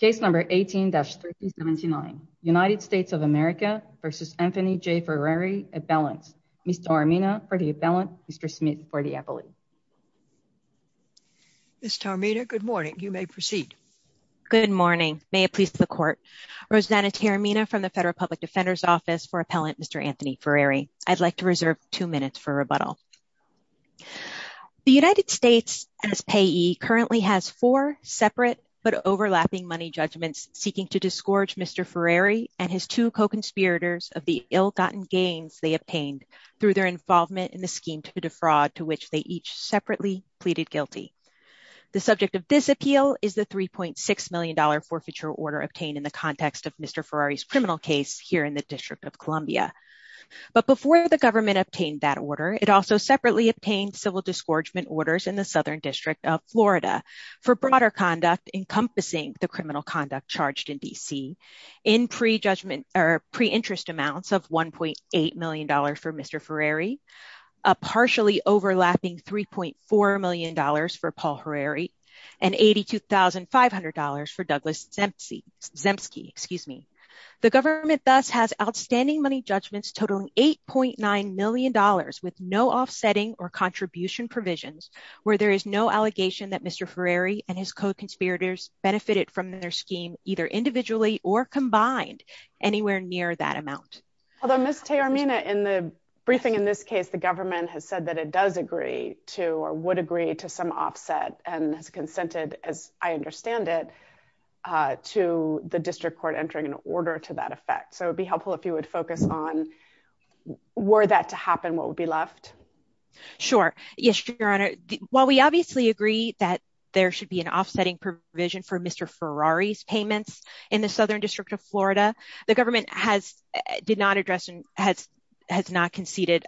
v. Anthony J. Ferreri, appellant. Ms. Tarmina for the appellant, Mr. Smith for the appellate. Ms. Tarmina, good morning. You may proceed. Good morning. May it please the court. Rosanna Tarimina from the Federal Public Defender's Office for appellant Mr. Anthony Ferreri. I'd like to reserve two minutes for rebuttal. The United States as payee currently has four separate but overlapping money judgments seeking to disgorge Mr. Ferreri and his two co-conspirators of the ill-gotten gains they obtained through their involvement in the scheme to defraud to which they each separately pleaded guilty. The subject of this appeal is the $3.6 million forfeiture order obtained in the context of Mr. Ferreri's criminal case here in the District of Columbia. But before the government obtained that order, it also separately obtained civil disgorgement orders in the Southern District of Florida for broader conduct encompassing the criminal conduct charged in D.C. in pre-judgment or pre-interest amounts of $1.8 million for Mr. Ferreri, a partially overlapping $3.4 million for Paul Ferreri, and $82,500 for Douglas Zemsky. The government thus has outstanding money judgments totaling $8.9 million with no offsetting or contribution provisions where there is no allegation that Mr. Ferreri and his co-conspirators benefited from their scheme either individually or combined anywhere near that amount. Although Ms. Teormina, in the briefing in this case, the government has said that it does agree to or would agree to some offset and has consented as I understand it to the District Court entering an order to that effect. So it'd be helpful if you would focus on were that to happen, what would be left? Sure. Yes, Your Honor. While we obviously agree that there should be an offsetting provision for Mr. Ferreri's payments in the Southern District of Florida, the government has did not address and has not conceded.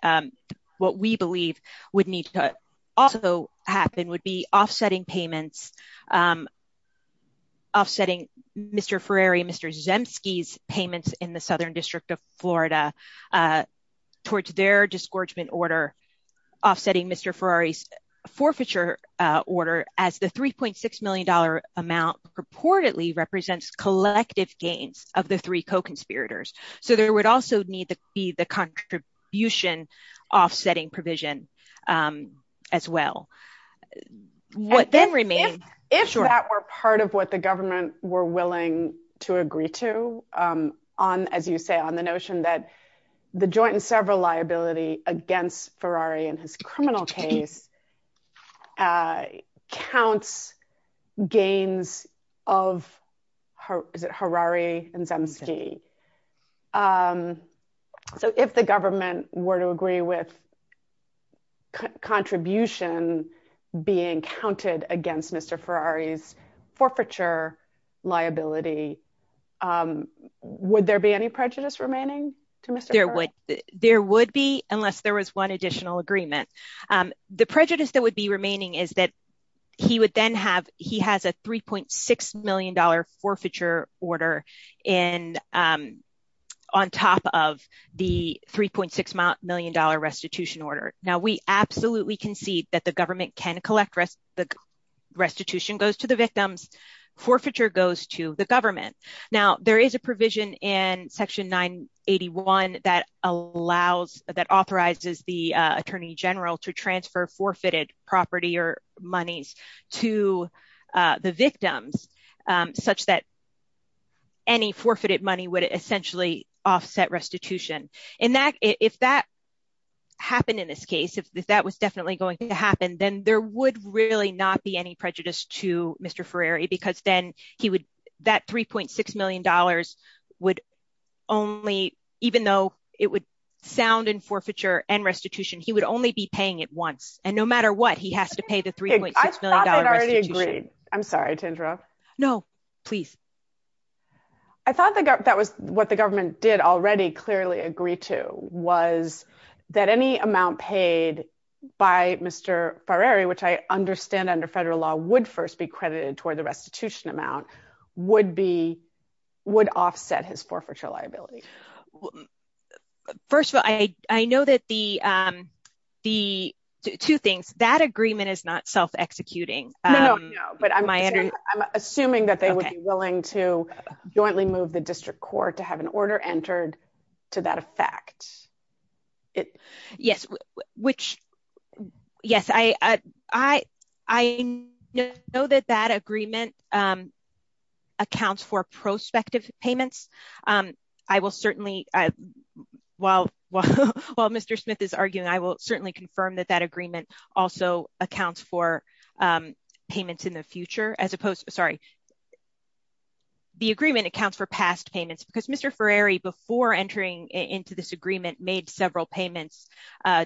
What we believe would need to also happen would be offsetting payments, offsetting Mr. Ferreri and Mr. Zemsky's payments in the Southern District of Florida towards their disgorgement order, offsetting Mr. Ferreri's forfeiture order as the $3.6 million amount purportedly represents collective gains of the three co-conspirators. So there would also need to be the contribution offsetting provision as well. If that were part of what the government were willing to agree to on, as you say, on the notion that the joint and several liability against Ferreri in his criminal case counts gains of, is it, Ferreri and Zemsky. So if the government were to agree with contribution being counted against Mr. Ferreri's forfeiture liability, would there be any prejudice remaining to Mr. Ferreri? There would be unless there was one additional agreement. The prejudice that would be remaining is that he would then have, he has a $3.6 million restitution order. Now we absolutely concede that the government can collect restitution goes to the victims, forfeiture goes to the government. Now there is a provision in section 981 that allows, that authorizes the Attorney General to transfer forfeited property or monies to the victims such that any forfeited money would essentially offset restitution. And that, if that happened in this case, if that was definitely going to happen, then there would really not be any prejudice to Mr. Ferreri because then he would, that $3.6 million would only, even though it would sound in forfeiture and restitution, he would only be paying it once. And no matter what he has to pay the $3.6 million restitution. I thought they'd already agreed. I'm sorry, Tindra. No, please. I thought that was what the government did already clearly agree to was that any amount paid by Mr. Ferreri, which I understand under federal law would first be credited toward the restitution amount would be, would offset his forfeiture liability. First of all, I know that the, the two things, that agreement is not self-executing. But I'm assuming that they would be willing to jointly move the district court to have an order entered to that effect. Yes, which, yes, I, I, I know that that agreement accounts for prospective payments. I will certainly, while, while Mr. Smith is arguing, I will certainly confirm that that agreement also accounts for payments in the future as opposed to, sorry, the agreement accounts for past payments because Mr. Ferreri before entering into this agreement made several payments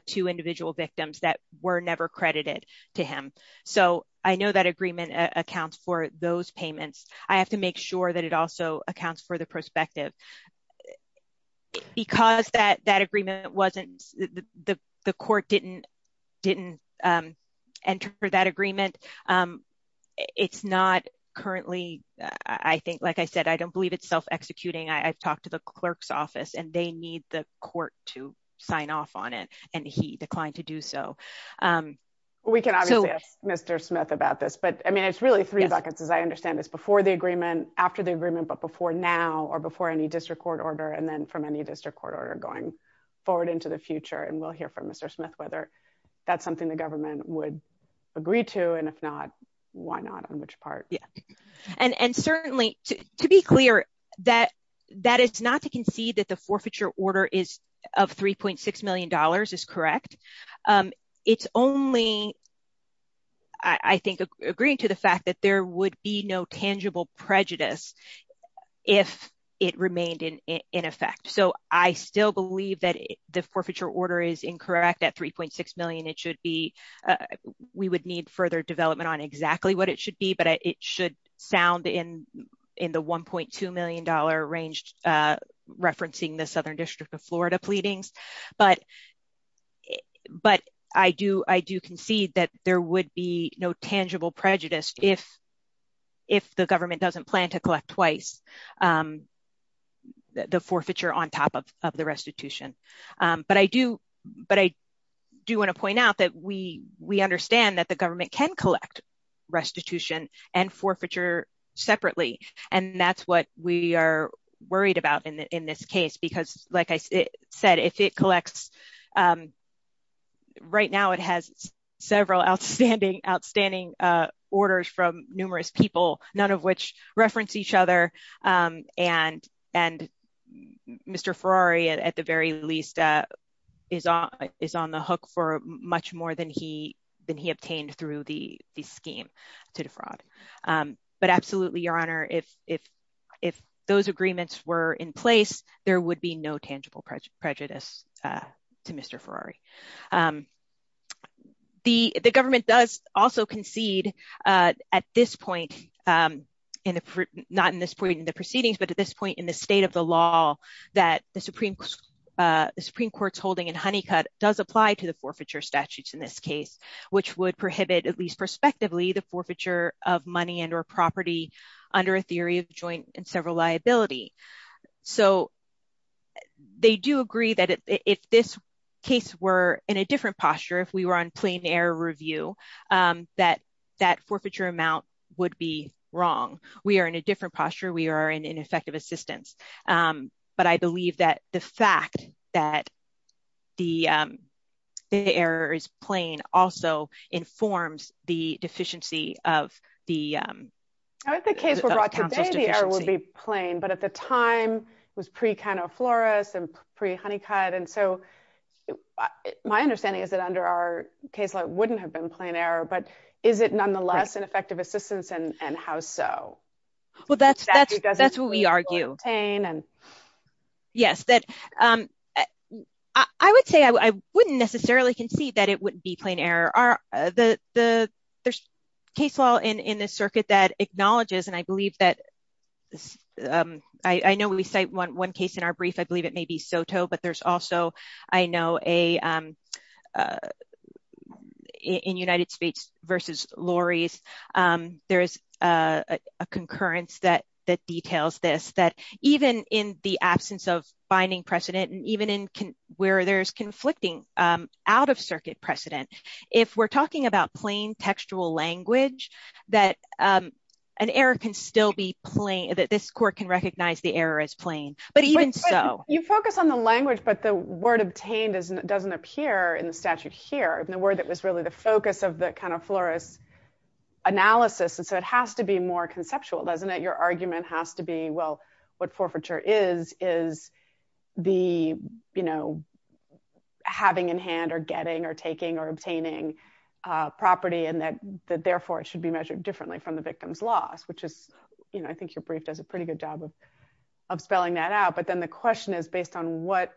to individual victims that were never credited to him. So I know that agreement accounts for those payments. I have to make sure that it also accounts for the prospective because that, that agreement wasn't the, the court didn't, didn't enter that agreement. It's not currently, I think, like I said, I don't believe it's self-executing. I've talked to the clerk's office and they need the court to sign off on it and he declined to do so. We can obviously ask Mr. Smith about this, but I mean, it's really three buckets as I understand this before the agreement, after the agreement, but before now or before any district court order, and then from any district court order going forward into the future. And we'll hear from why not on which part. Yeah. And certainly to be clear that it's not to concede that the forfeiture order is of $3.6 million is correct. It's only, I think, agreeing to the fact that there would be no tangible prejudice if it remained in effect. So I still believe that the forfeiture order is incorrect at $3.6 million. It should be, we would need further development on exactly what it should be, but it should sound in, in the $1.2 million range, referencing the Southern District of Florida pleadings. But, but I do, I do concede that there would be no tangible prejudice if, if the government doesn't plan to collect twice the forfeiture on top of the restitution. But I do, but I do want to point out that we, we understand that the government can collect restitution and forfeiture separately. And that's what we are worried about in the, in this case, because like I said, if it collects right now, it has several outstanding, outstanding orders from numerous people, none of which reference each other. And, and Mr. Ferrari at the very least is on, is on the hook for much more than he, than he obtained through the scheme to defraud. But absolutely, Your Honor, if, if, if those agreements were in place, there would be no tangible prejudice to Mr. Ferrari. The, the government does also concede at this point in the, not in this point in the proceedings, but at this point in the state of law that the Supreme, the Supreme Court's holding in Honeycutt does apply to the forfeiture statutes in this case, which would prohibit at least prospectively the forfeiture of money and, or property under a theory of joint and several liability. So they do agree that if this case were in a different posture, if we were on plain air review that, that forfeiture amount would be wrong. We are in a different posture. We are in, in effective assistance. But I believe that the fact that the, the error is plain also informs the deficiency of the, of the council's deficiency. Now if the case were brought today, the error would be plain, but at the time it was pre-Count O'Flores and pre-Honeycutt. And so my understanding is that under our case law, it wouldn't have been plain error, but is it nonetheless an effective assistance and how so? Well, that's, that's, that's what we argue. Yes, that, I would say I wouldn't necessarily concede that it wouldn't be plain error. There's case law in this circuit that acknowledges, and I believe that, I know we cite one case in our brief, I believe it may be SOTO, but there's also, I know a, in United States versus Lori's, there is a concurrence that, that details this, that even in the absence of binding precedent, and even in where there's conflicting out of circuit precedent, if we're talking about plain textual language, that an error can still be plain, that this court can recognize the error as plain, but even so. You focus on the language, but the word obtained doesn't appear in the statute here, and the word that was really the focus of the Count O'Flores analysis. And so it has to be more conceptual, doesn't it? Your argument has to be, well, what forfeiture is, is the, you know, having in hand or getting or taking or obtaining a property, and that, that therefore it should be measured differently from the victim's loss, which is, you know, I think your brief does a based on what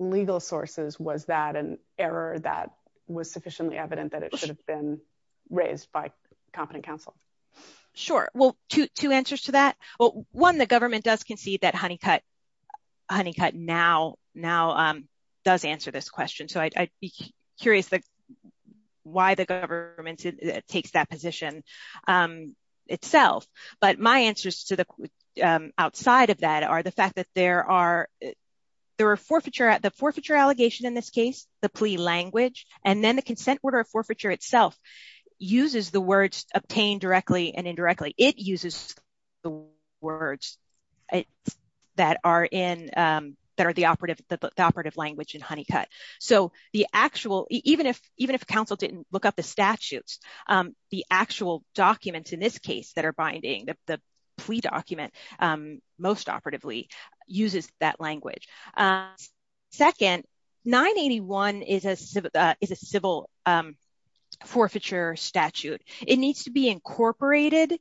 legal sources was that an error that was sufficiently evident that it should have been raised by competent counsel. Sure. Well, two, two answers to that. Well, one, the government does concede that Honeycutt, Honeycutt now, now does answer this question. So I'd be curious why the government takes that position itself. But my answers to the outside of that are the fact that there are, there are forfeiture at the forfeiture allegation in this case, the plea language, and then the consent order of forfeiture itself uses the words obtained directly and indirectly. It uses the words that are in, that are the operative, the operative language in Honeycutt. So the actual, even if, even if counsel didn't look up the statutes, the actual documents in this case that are binding the plea document most operatively uses that language. Second, 981 is a civil, is a civil forfeiture statute. It needs to be incorporated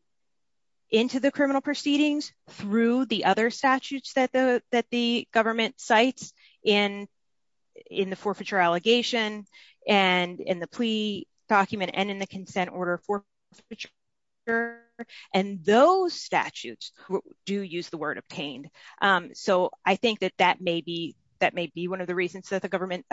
into the criminal proceedings through the other statutes that the, that the government cites in, in the forfeiture allegation and in the plea document and in the do use the word obtained. So I think that that may be, that may be one of the reasons that the government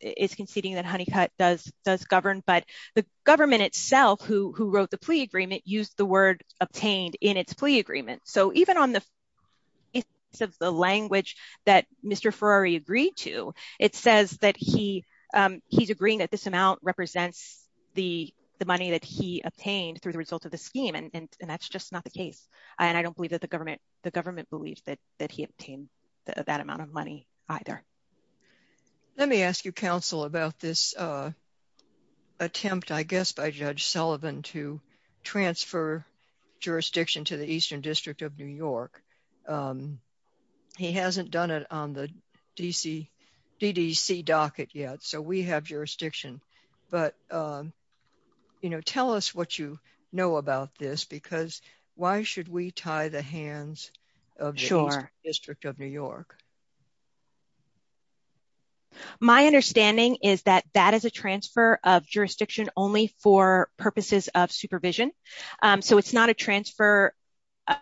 is conceding that Honeycutt does, does govern, but the government itself who, who wrote the plea agreement used the word obtained in its plea agreement. So even on the language that Mr. Ferrari agreed to, it says that he he's agreeing that this amount represents the, the money that he obtained through the results of the scheme. And that's just not the government, the government believes that, that he obtained that amount of money either. Let me ask you counsel about this attempt, I guess, by Judge Sullivan to transfer jurisdiction to the Eastern District of New York. He hasn't done it on the DC, DDC docket yet. So we have But, you know, tell us what you know about this, because why should we tie the hands of the Eastern District of New York? My understanding is that that is a transfer of jurisdiction only for purposes of supervision. So it's not a transfer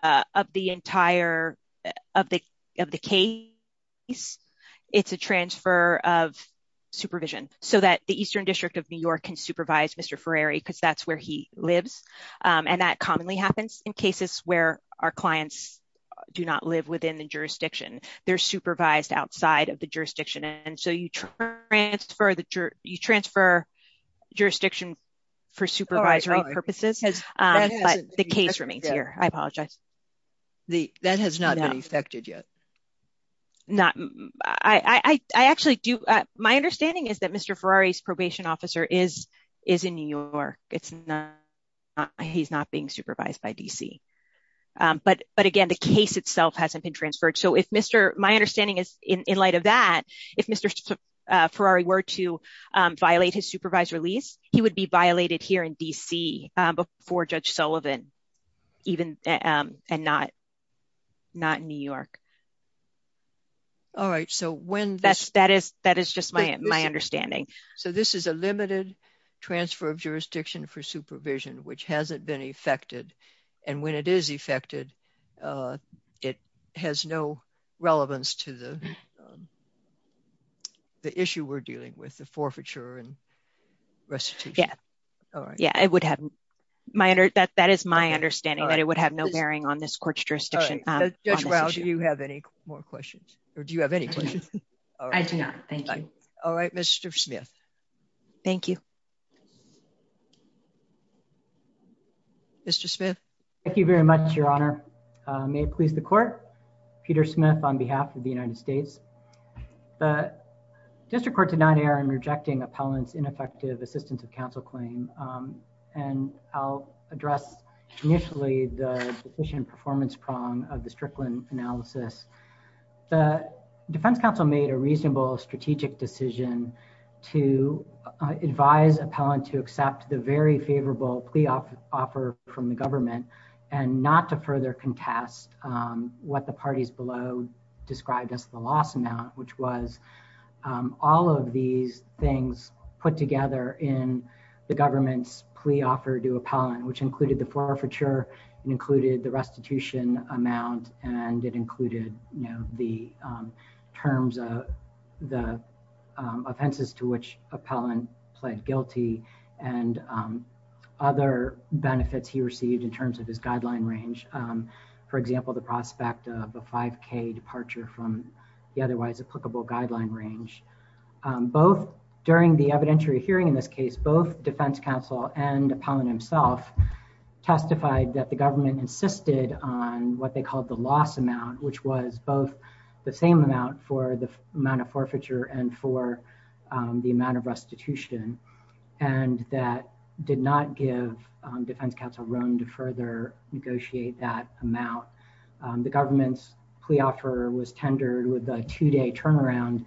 of the entire, of the, of the case. It's a transfer of the Eastern District of New York can supervise Mr. Ferrari, because that's where he lives. And that commonly happens in cases where our clients do not live within the jurisdiction, they're supervised outside of the jurisdiction. And so you transfer the jurisdiction for supervisory purposes. But the case remains here, I apologize. That has not been affected yet. Not, I actually do. My understanding is that Mr. Ferrari's probation officer is, is in New York, it's not, he's not being supervised by DC. But, but again, the case itself hasn't been transferred. So if Mr. My understanding is, in light of that, if Mr. Ferrari were to violate his supervised release, he would be violated here in DC, before Judge Sullivan, even, and not, not in New York. All right. So when that's, that is, that is just my, my understanding. So this is a limited transfer of jurisdiction for supervision, which hasn't been affected. And when it is affected, it has no relevance to the, the issue we're dealing with the forfeiture and restitution. Yeah. All right. Yeah, it would have my under, that, that is my understanding that it would have no bearing on this court's jurisdiction. Judge Rao, do you have any more questions? Or do you have any questions? I do not. Thank you. All right, Mr. Smith. Thank you. Mr. Smith. Thank you very much, Your Honor. May it please the court. Peter Smith on behalf of the United States. The district court did not err in rejecting appellant's ineffective assistance of counsel claim. And I'll address initially the deficient performance prong of the Strickland analysis. The defense counsel made a reasonable strategic decision to advise appellant to accept the very favorable plea offer from the government and not to further contest what the parties below described as the loss amount, which was all of these things put together in the government's plea offer to appellant, which included the forfeiture and included the restitution amount. And it included, you know, the terms of the offenses to which appellant pled guilty and other benefits he received in terms of his guideline range. For example, the prospect of 5K departure from the otherwise applicable guideline range. Both during the evidentiary hearing in this case, both defense counsel and appellant himself testified that the government insisted on what they called the loss amount, which was both the same amount for the amount of forfeiture and for the amount of restitution. And that did not give defense counsel room to negotiate that amount. The government's plea offer was tendered with a two day turnaround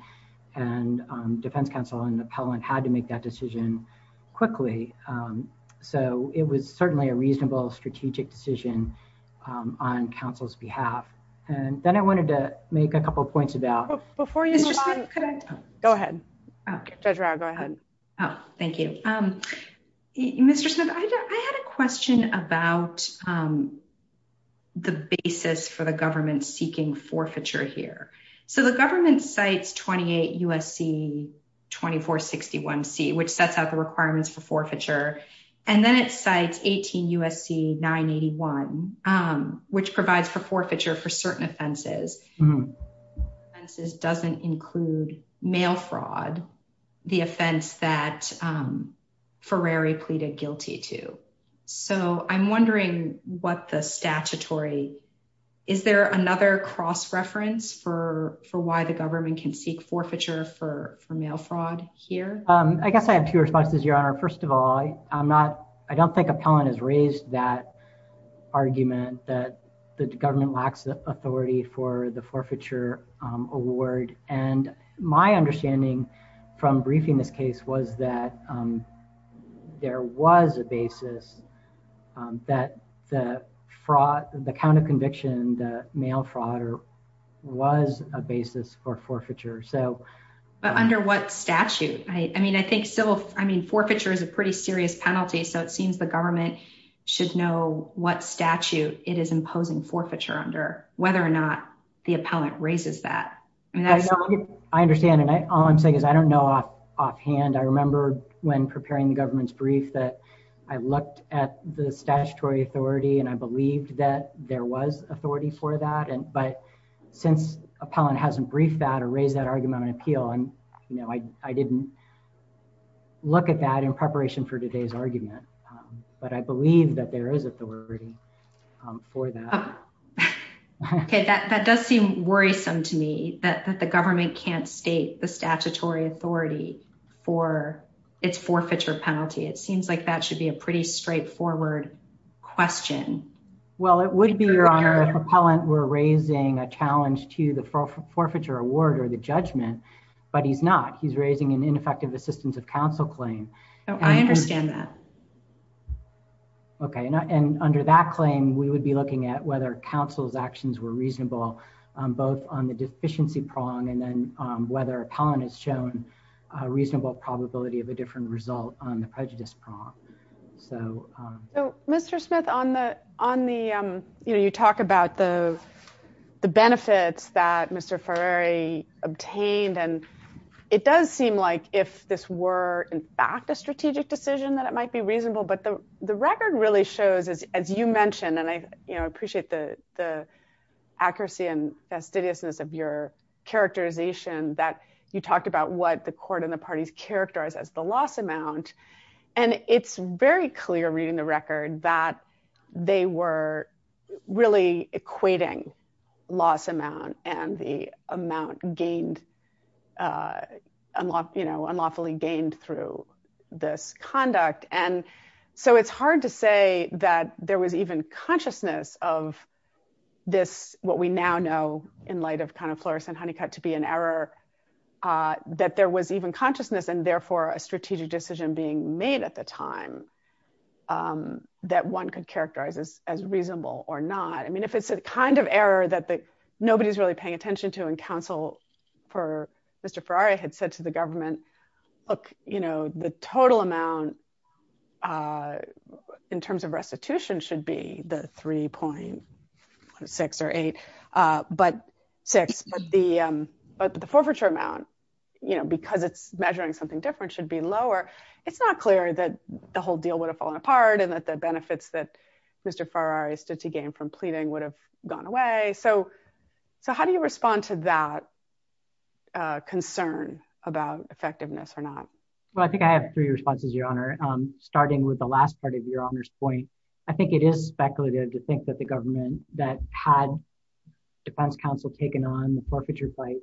and defense counsel and appellant had to make that decision quickly. So it was certainly a reasonable strategic decision on counsel's behalf. And then I wanted to make a couple of points about before you just go ahead. Go ahead. Oh, thank you. Um, Mr. Smith, I had a question about the basis for the government seeking forfeiture here. So the government cites 28 USC 2461 C, which sets out the requirements for forfeiture. And then it cites 18 USC 981, which provides for forfeiture for certain offenses. This doesn't include mail fraud, the offense that pleaded guilty to. So I'm wondering what the statutory is there another cross reference for why the government can seek forfeiture for mail fraud here? I guess I have two responses, Your Honor. First of all, I'm not I don't think appellant has raised that argument that the government lacks authority for the forfeiture award. And my understanding from briefing this case was that there was a basis that the fraud, the count of conviction, the mail fraud or was a basis for forfeiture. So under what statute? I mean, I think so. I mean, forfeiture is a pretty serious penalty. So it seems the government should know what statute it is imposing forfeiture under, whether or not the appellant raises that. I mean, I understand. And all I'm saying is I don't know off offhand. I remember when preparing the government's brief that I looked at the statutory authority and I believed that there was authority for that. But since appellant hasn't briefed that or raised that argument on appeal, I didn't look at that in preparation for today's argument. But I believe that there is authority for that. OK, that does seem worrisome to me that the government can't state the statutory authority for its forfeiture penalty. It seems like that should be a pretty straightforward question. Well, it would be your appellant. We're raising a challenge to the forfeiture award or the judgment, but he's not. He's raising an ineffective assistance of counsel claim. I understand that. OK, and under that claim, we would be looking at whether counsel's actions were reasonable both on the deficiency prong and then whether appellant has shown a reasonable probability of a different result on the prejudice prong. So, Mr. Smith, on the on the you talk about the benefits that Mr. Ferreri obtained, and it does seem like if this were in fact a strategic decision that it might be reasonable. But the record really shows, as you mentioned, and I appreciate the the accuracy and fastidiousness of your characterization that you talked about what the court and the parties characterize as the loss amount. And it's very clear reading the record that they were really equating loss amount and the amount gained unlawfully gained through this conduct. And so it's hard to say that there was even consciousness of this, what we now know in light of kind of Floris and Honeycutt to be an error, that there was even consciousness and therefore a strategic decision being made at the time that one could characterize as reasonable or not. I mean, if it's the kind of error that nobody's really paying attention to in counsel for Mr. Ferreri had said to the government, look, you know, the total amount in terms of restitution should be the 3.6 or eight, but six, but the forfeiture amount, you know, because it's measuring something different should be lower. It's not clear that the whole deal would have fallen apart and that the benefits that Mr. Ferreri stood to gain from a concern about effectiveness or not. Well, I think I have three responses, your honor, starting with the last part of your honors point. I think it is speculative to think that the government that had defense counsel taken on the forfeiture plate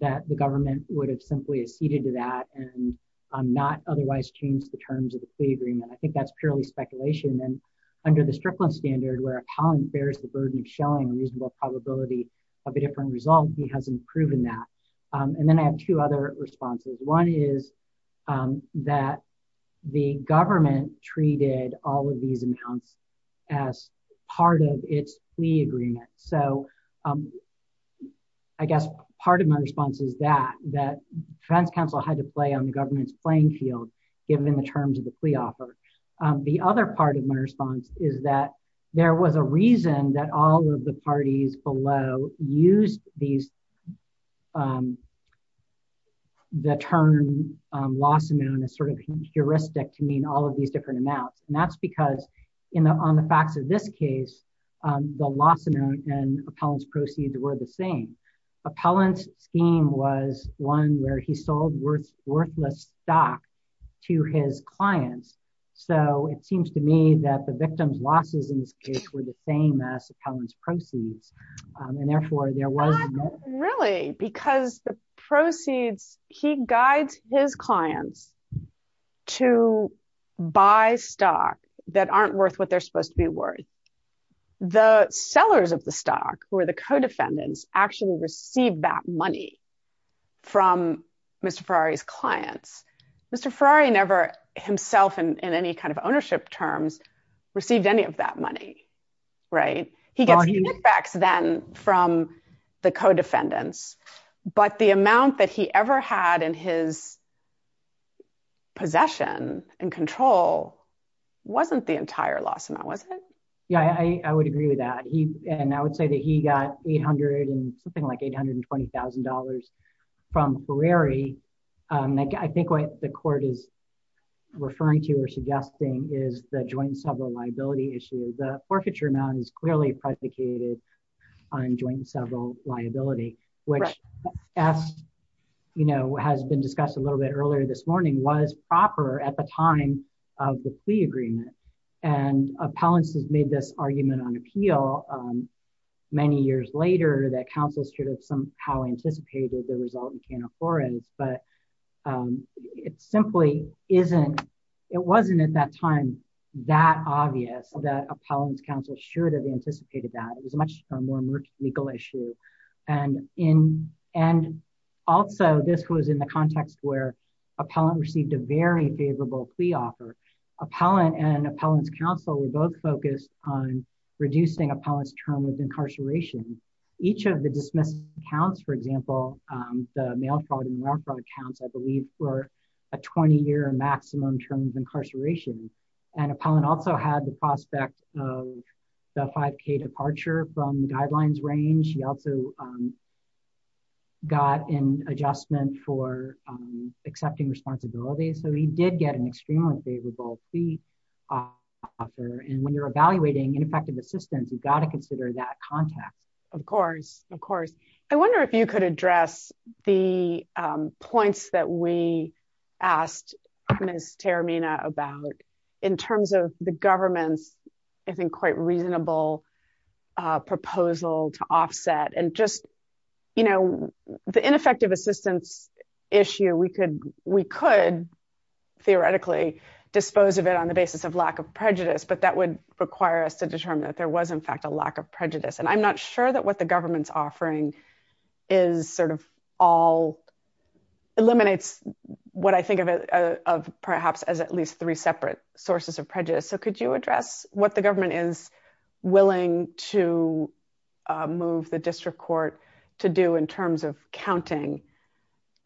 that the government would have simply acceded to that and not otherwise change the terms of the agreement. I think that's purely speculation. And under the Strickland standard where a pound bears the burden of showing a reasonable probability of a different result, he hasn't proven that. And then I have two other responses. One is that the government treated all of these amounts as part of its plea agreement. So I guess part of my response is that defense counsel had to play on the government's playing field, given the terms of the plea offer. The other part of my response is that there was a reason that all of the parties below used these, the term loss amount as sort of heuristic to mean all of these different amounts. And that's because on the facts of this case, the loss amount and appellant's proceeds were the same. Appellant's scheme was one where he sold worthless stock to his clients. So it seems to me that the losses in this case were the same as appellant's proceeds. And therefore there was- I don't think really, because the proceeds, he guides his clients to buy stock that aren't worth what they're supposed to be worth. The sellers of the stock, who are the co-defendants, actually receive that money from Mr. Ferrari's clients. Mr. Ferrari never himself in any kind of ownership terms received any of that money, right? He gets kickbacks then from the co-defendants, but the amount that he ever had in his possession and control wasn't the entire loss amount, was it? Yeah, I would agree with that. And I would say that he got 800 and something like $820,000 from Ferrari. I think what the court is referring to or suggesting is the joint several liability issue. The forfeiture amount is clearly predicated on joint several liability, which as has been discussed a little bit earlier this morning, was proper at the time of the plea agreement. And appellants has made this argument on appeal many years later that appellant's counsel should have somehow anticipated the result in Cana Flores. But it simply isn't, it wasn't at that time that obvious that appellant's counsel should have anticipated that. It was much more of a legal issue. And also this was in the context where appellant received a very favorable plea offer. Appellant and appellant's counsel were both focused on reducing appellant's term of incarceration. Each of the dismissal counts, for example, the mail fraud and ware fraud counts, I believe, were a 20-year maximum term of incarceration. And appellant also had the prospect of the 5k departure from the guidelines range. He also got an adjustment for accepting responsibility. So he did get an extremely favorable plea offer. And when you're evaluating ineffective assistance, you've got to consider that context. Of course, of course. I wonder if you could address the points that we asked Ms. Terimina about in terms of the government's, I think, quite reasonable proposal to offset and just, you know, the ineffective assistance issue, we could theoretically dispose of it on the lack of prejudice, but that would require us to determine that there was in fact a lack of prejudice. And I'm not sure that what the government's offering is sort of all eliminates what I think of perhaps as at least three separate sources of prejudice. So could you address what the government is willing to move the district court to do in terms of counting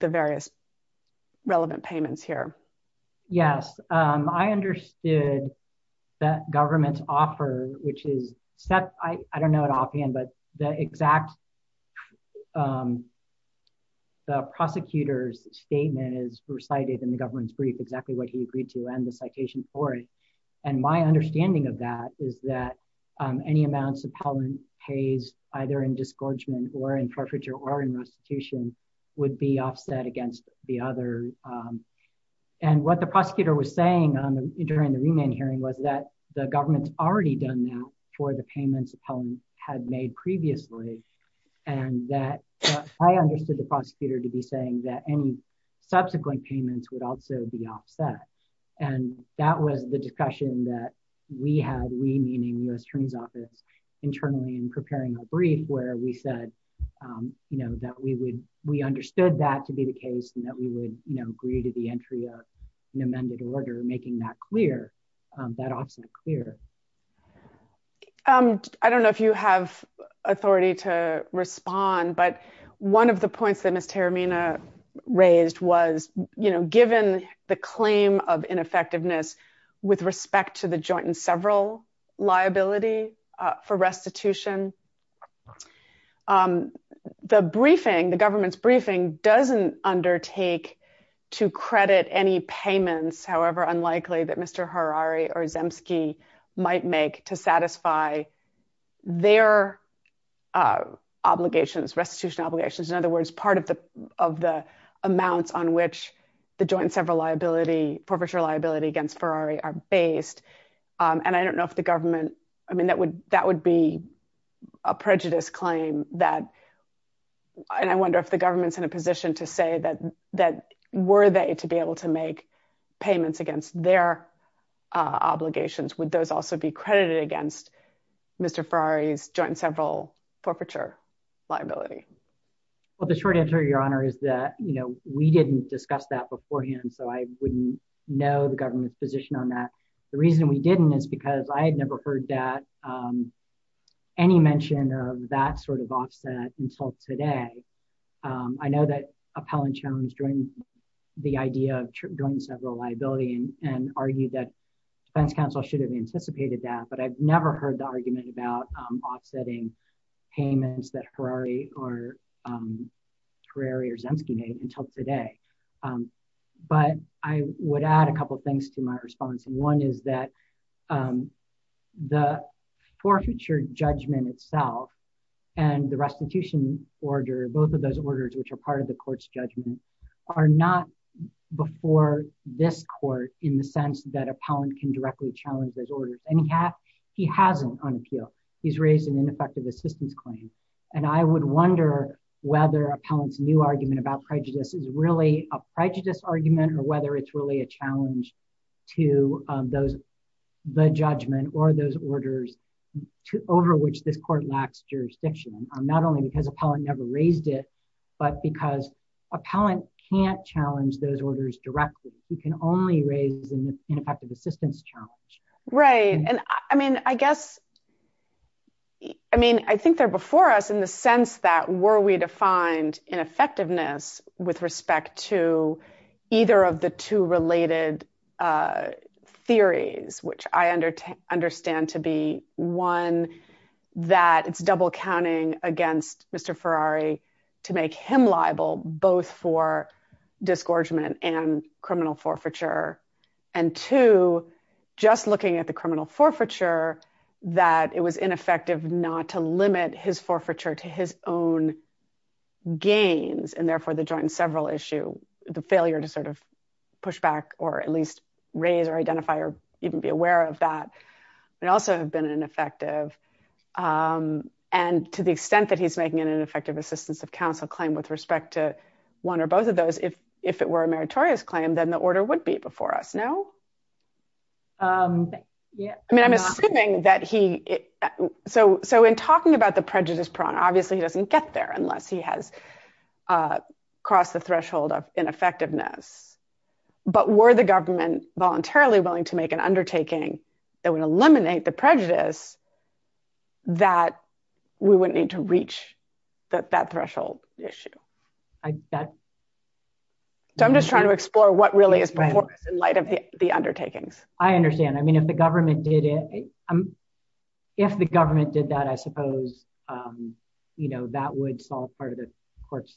the various relevant payments here? Yes. I understood that government's offer, which is set, I don't know what I'll be in, but the exact, the prosecutor's statement is recited in the government's brief, exactly what he agreed to and the citation for it. And my understanding of that is that any amounts appellant pays either in disgorgement or in forfeiture or in restitution would be offset against the other. And what the prosecutor was saying during the remand hearing was that the government's already done that for the payments appellant had made previously. And that I understood the prosecutor to be saying that any subsequent payments would also be offset. And that was the discussion that we had, we meaning U.S. Attorney's Office, internally in we understood that to be the case and that we would agree to the entry of an amended order, making that clear, that offset clear. I don't know if you have authority to respond, but one of the points that Ms. Tarimina raised was, given the claim of ineffectiveness with respect to the joint and several liability for restitution, the briefing, the government's briefing doesn't undertake to credit any payments, however unlikely that Mr. Harari or Zemsky might make to satisfy their obligations, restitution obligations. In other words, part of the amounts on which the joint and several liability, forfeiture liability against Harari are based. And I don't know if the government, I mean, that would, that would be a prejudice claim that, and I wonder if the government's in a position to say that, that were they to be able to make payments against their obligations, would those also be credited against Mr. Harari's joint and several forfeiture liability? Well, the short answer, your honor, is that, you know, we didn't discuss that beforehand. So I wouldn't know the government's position on that. The reason we didn't is because I had never heard that, any mention of that sort of offset until today. I know that Appellant Jones joined the idea of joint and several liability and argued that defense counsel should have anticipated that, but I've never heard the argument about offsetting payments that Harari or Zemsky made until today. But I would add a couple of things to my response. And one is that the forfeiture judgment itself and the restitution order, both of those orders, which are part of the court's judgment, are not before this court in the sense that Appellant can directly challenge those orders. And he has, he hasn't on appeal. He's raised an ineffective assistance claim. And I would wonder whether Appellant's new argument about prejudice is really a prejudice argument or whether it's really a challenge to those, the judgment or those orders over which this court lacks jurisdiction, not only because Appellant never raised it, but because Appellant can't challenge those orders directly. He can only raise an ineffective assistance challenge. Right. And I mean, I guess, I mean, I think they're before us in the sense that were we defined in effectiveness with respect to either of the two related theories, which I understand to be one, that it's double counting against Mr. Ferrari to make him liable both for disgorgement and criminal forfeiture. And two, just looking at the criminal forfeiture, that it was ineffective not to limit his forfeiture to his own gains and therefore the joint and several issue, the failure to sort of push back or at least raise or identify or even be aware of that, but also have been ineffective. And to the extent that he's making it an effective assistance of counsel claim with respect to one or both of those, if it were a meritorious claim, then the order would be before us now. I mean, I'm assuming that he, so in talking about the prejudice prong, obviously he doesn't get there unless he has crossed the threshold of ineffectiveness, but were the government voluntarily willing to make an undertaking that would eliminate the prejudice that we wouldn't need to reach that threshold issue. I bet. So I'm just trying to explore what really is performance in light of the undertakings. I understand. I mean, if the government did it, if the government did that, I suppose, you know, that would solve part of the court's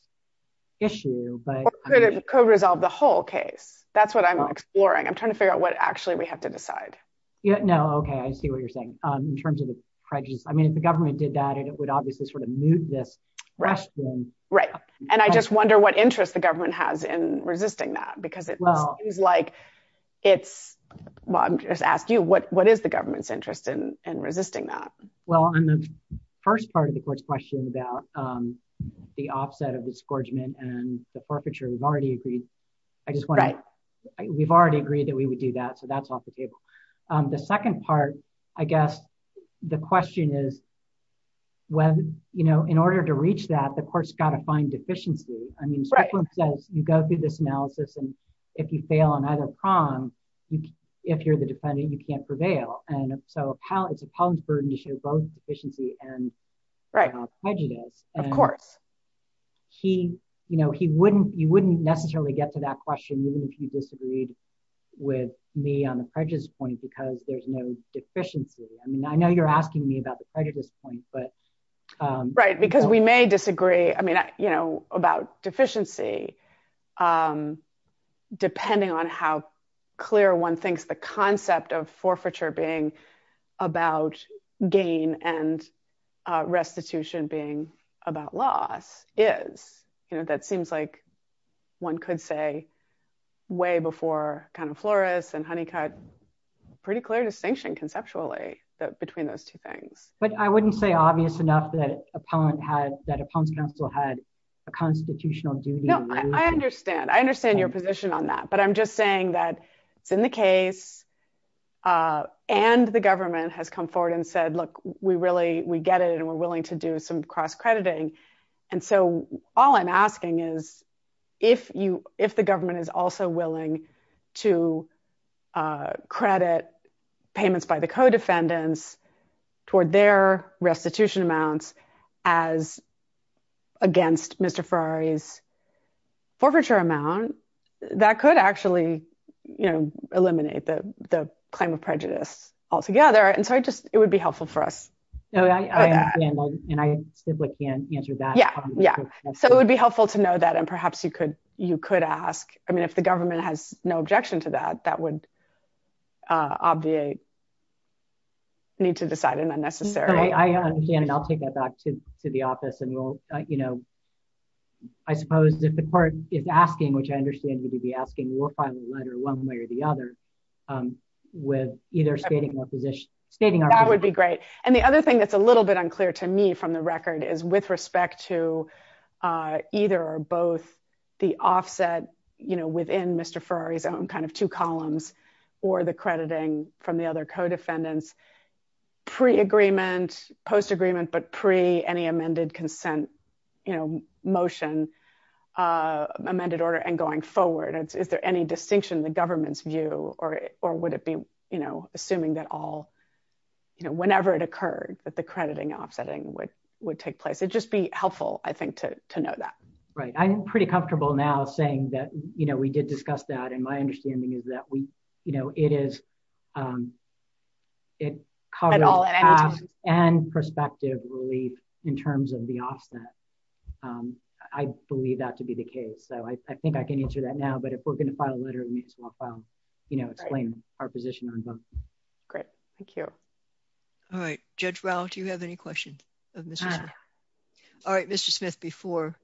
issue. Or could it co-resolve the whole case? That's what I'm exploring. I'm trying to figure out what actually we have to decide. Yeah, no. Okay. I see what you're saying. In terms of the prejudice, I mean, if the government did that and it would obviously move this question. Right. And I just wonder what interest the government has in resisting that, because it seems like it's, I'm just asking you, what is the government's interest in resisting that? Well, on the first part of the court's question about the offset of the scourgement and the forfeiture, we've already agreed. We've already agreed that we would do that. So that's the first part. The second part, I guess, the question is, in order to reach that, the court's got to find deficiency. I mean, Strickland says, you go through this analysis, and if you fail on either prong, if you're the defendant, you can't prevail. And so it's appellant's burden to show both deficiency and prejudice. Of course. He, you know, he wouldn't, you wouldn't necessarily get to that question, even if you disagreed with me on the prejudice point, because there's no deficiency. I mean, I know you're asking me about the prejudice point, but... Right, because we may disagree. I mean, you know, about deficiency, depending on how clear one thinks the concept of forfeiture being about gain and restitution being about loss is, you know, that seems like one could say way before kind of Flores and Honeycutt, pretty clear distinction conceptually between those two things. But I wouldn't say obvious enough that appellant had, that appellant's counsel had a constitutional duty. No, I understand. I understand your position on that. But I'm forward and said, look, we really, we get it and we're willing to do some cross crediting. And so all I'm asking is if you, if the government is also willing to credit payments by the co-defendants toward their restitution amounts as against Mr. Ferrari's it would be helpful for us. And I simply can't answer that. Yeah. Yeah. So it would be helpful to know that. And perhaps you could, you could ask, I mean, if the government has no objection to that, that would obviate need to decide and unnecessary. I'll take that back to the office and we'll, you know, I suppose if the court is asking, which I understand you to be asking, we'll file a letter one way or the other with either stating our position. That would be great. And the other thing that's a little bit unclear to me from the record is with respect to either or both the offset, you know, within Mr. Ferrari's own kind of two columns or the crediting from the other co-defendants pre-agreement, post-agreement, but pre any forward. Is there any distinction in the government's view or, or would it be, you know, assuming that all, you know, whenever it occurred that the crediting offsetting would, would take place. It'd just be helpful, I think, to, to know that. Right. I'm pretty comfortable now saying that, you know, we did discuss that. And my understanding is that we, you know, it is and perspective relief in terms of the offset. I believe that to be the case. So I, I think I can answer that now, but if we're going to file a letter, it means we'll file, you know, explain our position on both. Great. Thank you. All right. Judge Rao, do you have any questions? All right. Mr. Smith before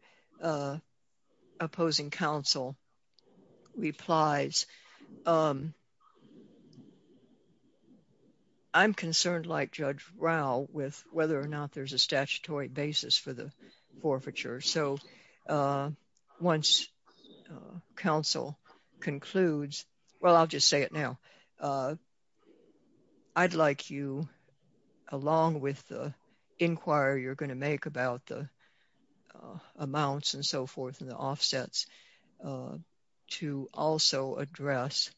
opposing counsel replies. I'm concerned like Judge Rao with whether or not there's a statutory basis for the once council concludes. Well, I'll just say it now. I'd like you along with inquire, you're going to make about the amounts and so forth and the offsets to also address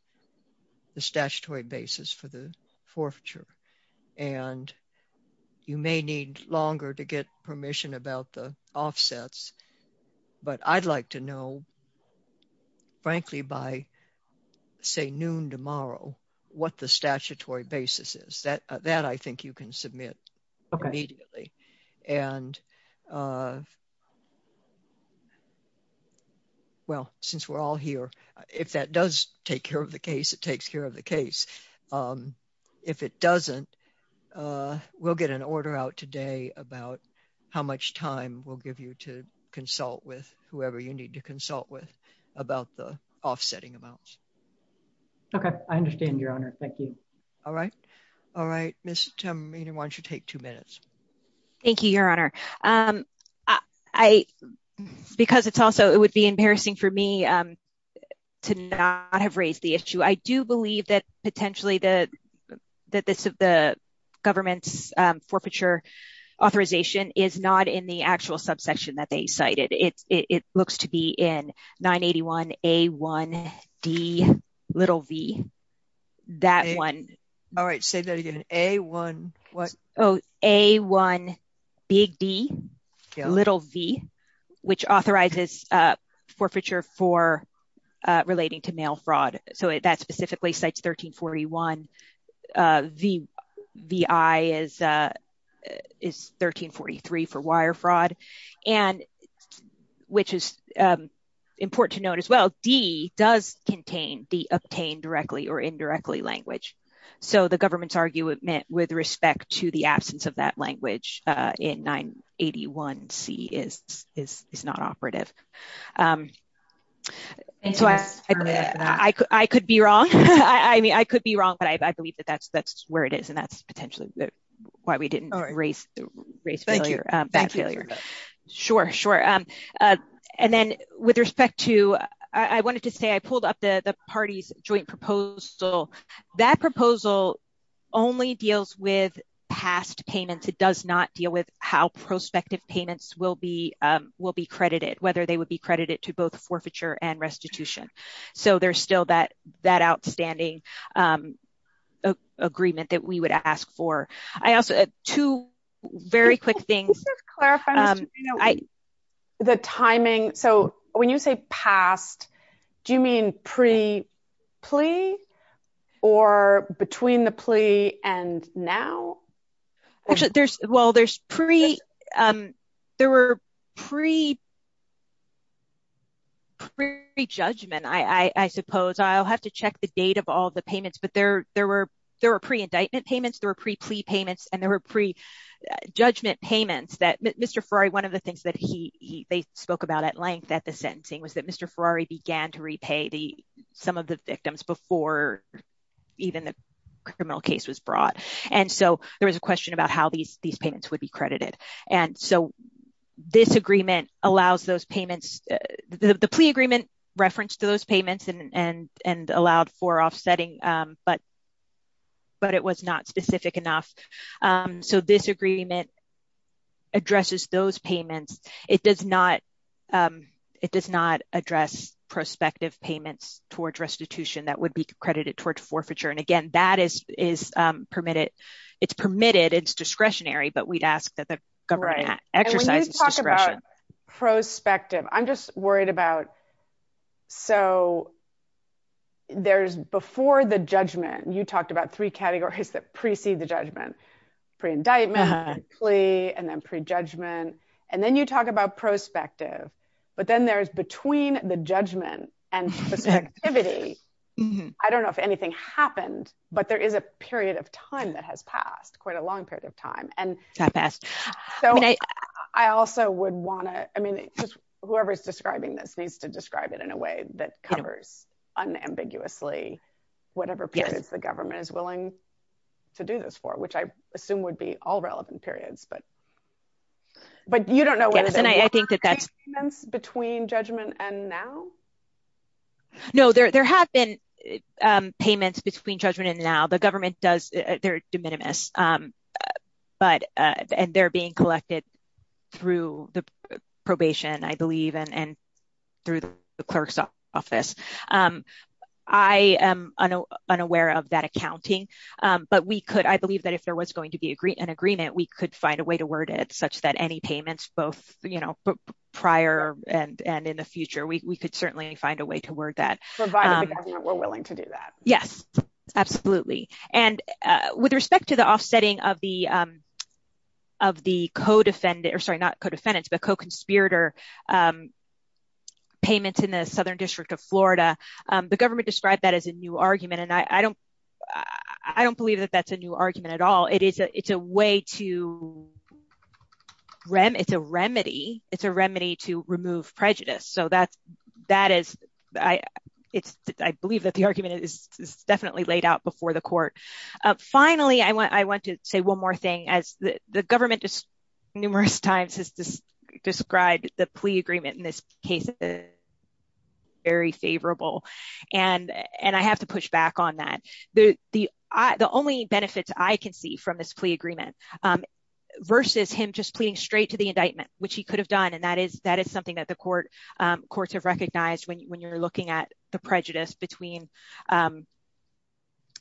the statutory basis for the forfeiture. And you may need longer to get about the offsets, but I'd like to know frankly, by say noon tomorrow, what the statutory basis is that, that I think you can submit immediately. And well, since we're all here, if that does take care of the case, it takes care of the case. If it doesn't we'll get an order out today about how much time we'll give you to consult with whoever you need to consult with about the offsetting amounts. Okay. I understand your honor. Thank you. All right. All right. Ms. Tamina, why don't you take two minutes? Thank you, your honor. I, because it's also, it would be embarrassing for me to not have raised the issue. I do believe that potentially the, that this, the government's forfeiture authorization is not in the actual subsection that they cited. It's, it looks to be in 981A1Dv, that one. All right. Say that again. A1, what? Oh, A1Dv, which authorizes forfeiture for relating to mail fraud. So that specifically cites 1341. The, the I is, is 1343 for wire fraud. And which is important to note as well, D does contain the obtained directly or indirectly language. So the government's argument with respect to the absence of that language in 981C is, is, is not operative. And so I, I could, I could be wrong. I mean, I could be wrong, but I believe that that's, that's where it is. And that's potentially why we didn't raise, raise that failure. Sure. Sure. And then with respect to, I wanted to say, I pulled up the, the party's joint proposal. That proposal only deals with past payments. It does not deal with how prospective payments will be, will be credited, whether they would be credited to both forfeiture and restitution. So there's still that, that outstanding agreement that we would ask for. I also, two very quick things. Just to clarify, Mr. Reno, the timing. So when you say past, do you mean pre-plea or between the plea and now? Actually, there's, well, there's pre, there were pre, pre-judgment, I suppose. I'll have to check the date of all the payments, but there, there were, there were pre-indictment payments, there were pre-plea payments, and there were pre-judgment payments that Mr. Ferrari, one of the things that he, he, they spoke about at length at the criminal case was brought. And so there was a question about how these, these payments would be credited. And so this agreement allows those payments, the plea agreement referenced those payments and, and, and allowed for offsetting, but, but it was not specific enough. So this agreement addresses those payments. It does not, it does not address prospective payments towards restitution that would be credited towards forfeiture. And again, that is, is permitted, it's permitted, it's discretionary, but we'd ask that the government exercises discretion. And when you talk about prospective, I'm just worried about, so there's, before the judgment, you talked about three categories that precede the judgment, pre-indictment, plea, and then pre-judgment. And then you talk about prospective, but then there's between the judgment and prospectivity. I don't know if anything happened, but there is a period of time that has passed quite a long period of time. And I also would want to, I mean, whoever's describing this needs to describe it in a way that covers unambiguously, whatever periods the government is willing to do this for, which I assume would be all relevant periods, but, but you don't know what it is. And I think that that's, between judgment and now? No, there, there have been payments between judgment and now, the government does, they're de minimis, but, and they're being collected through the probation, I believe, and through the clerk's office. I am unaware of that accounting, but we could, I believe that if there was going to be an agreement, we could find a way to word it such that any payments both, you know, prior and, and in the future, we could certainly find a way to word that. Provided the government were willing to do that. Yes, absolutely. And with respect to the offsetting of the, of the co-defendant, or sorry, not co-defendants, but co-conspirator payments in the Southern District of Florida, the government described that as a new argument. And I don't, I don't believe that that's a new argument at all. It is, it's a way to, it's a remedy, it's a remedy to remove prejudice. So that's, that is, I, it's, I believe that the argument is definitely laid out before the court. Finally, I want, I want to say one more thing, as the government numerous times has described the plea agreement in this case, very favorable. And, and I have to push back on that. The only benefits I can see from this plea agreement versus him just pleading straight to the indictment, which he could have done, and that is, that is something that the court, courts have recognized when you're looking at the prejudice between,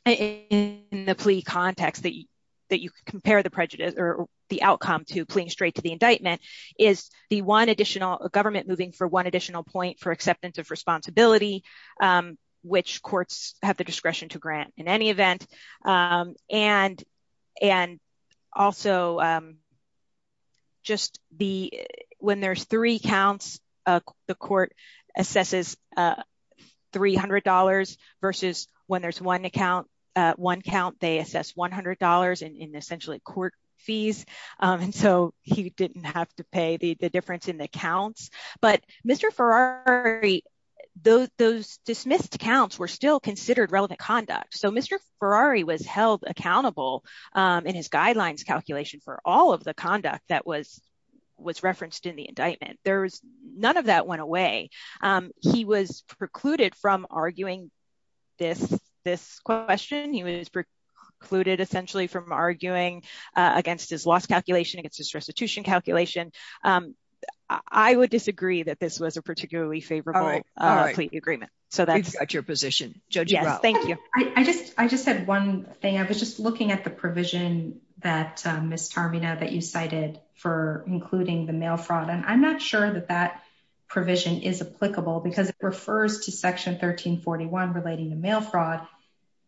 in the plea context that you, that you compare the prejudice or the outcome to pleading straight to the indictment is the one additional government moving for one additional point for acceptance of responsibility, which courts have the discretion to grant in any event. And, and also just the, when there's three counts, the court assesses $300 versus when there's one account, one count, they assess $100 in essentially court fees. And so he didn't have to pay the difference in the counts, but Mr. Ferrari, those, those dismissed counts were still considered relevant conduct. So Mr. Ferrari was held accountable in his guidelines calculation for all of the conduct that was, was referenced in the indictment. There was none of that went away. He was precluded from arguing this, this question. He was precluded essentially from arguing against his loss calculation, against his restitution calculation. I would disagree that this was a particularly favorable agreement. So that's your position. Thank you. I just, I just had one thing. I was just looking at the provision that Ms. Tarmina that you cited for including the mail fraud, and I'm not sure that that provision is applicable because it refers to section 1341 relating to mail fraud,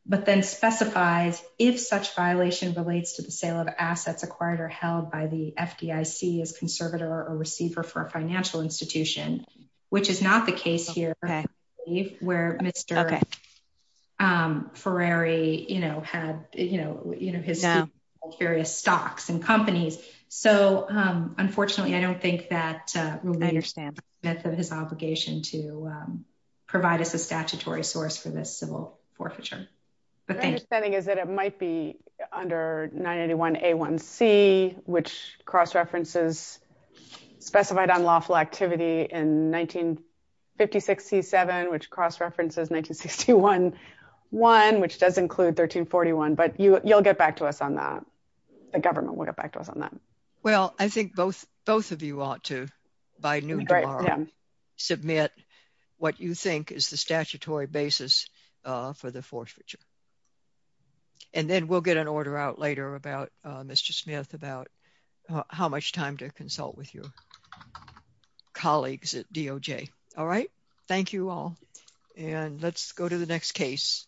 but then specifies if such violation relates to the sale of assets acquired or held by the FDIC as conservator or receiver for a financial institution, which is not the case here where Mr. Ferrari, you know, had, you know, you know, his various stocks and companies. So unfortunately I don't think that will be his obligation to provide us a statutory source for this civil forfeiture. My understanding is that it might be under 981A1C, which cross references specified unlawful activity in 1956C7, which cross references 1961C1, which does include 1341, but you'll get back to us on that. The government will get back to us on that. Well, I think both, both of you ought to, by noon tomorrow, submit what you think is the statutory basis for the forfeiture, and then we'll get an order out later about, Mr. Smith, about how much time to consult with your colleagues at DOJ. All right, thank you all, and let's go to the next case.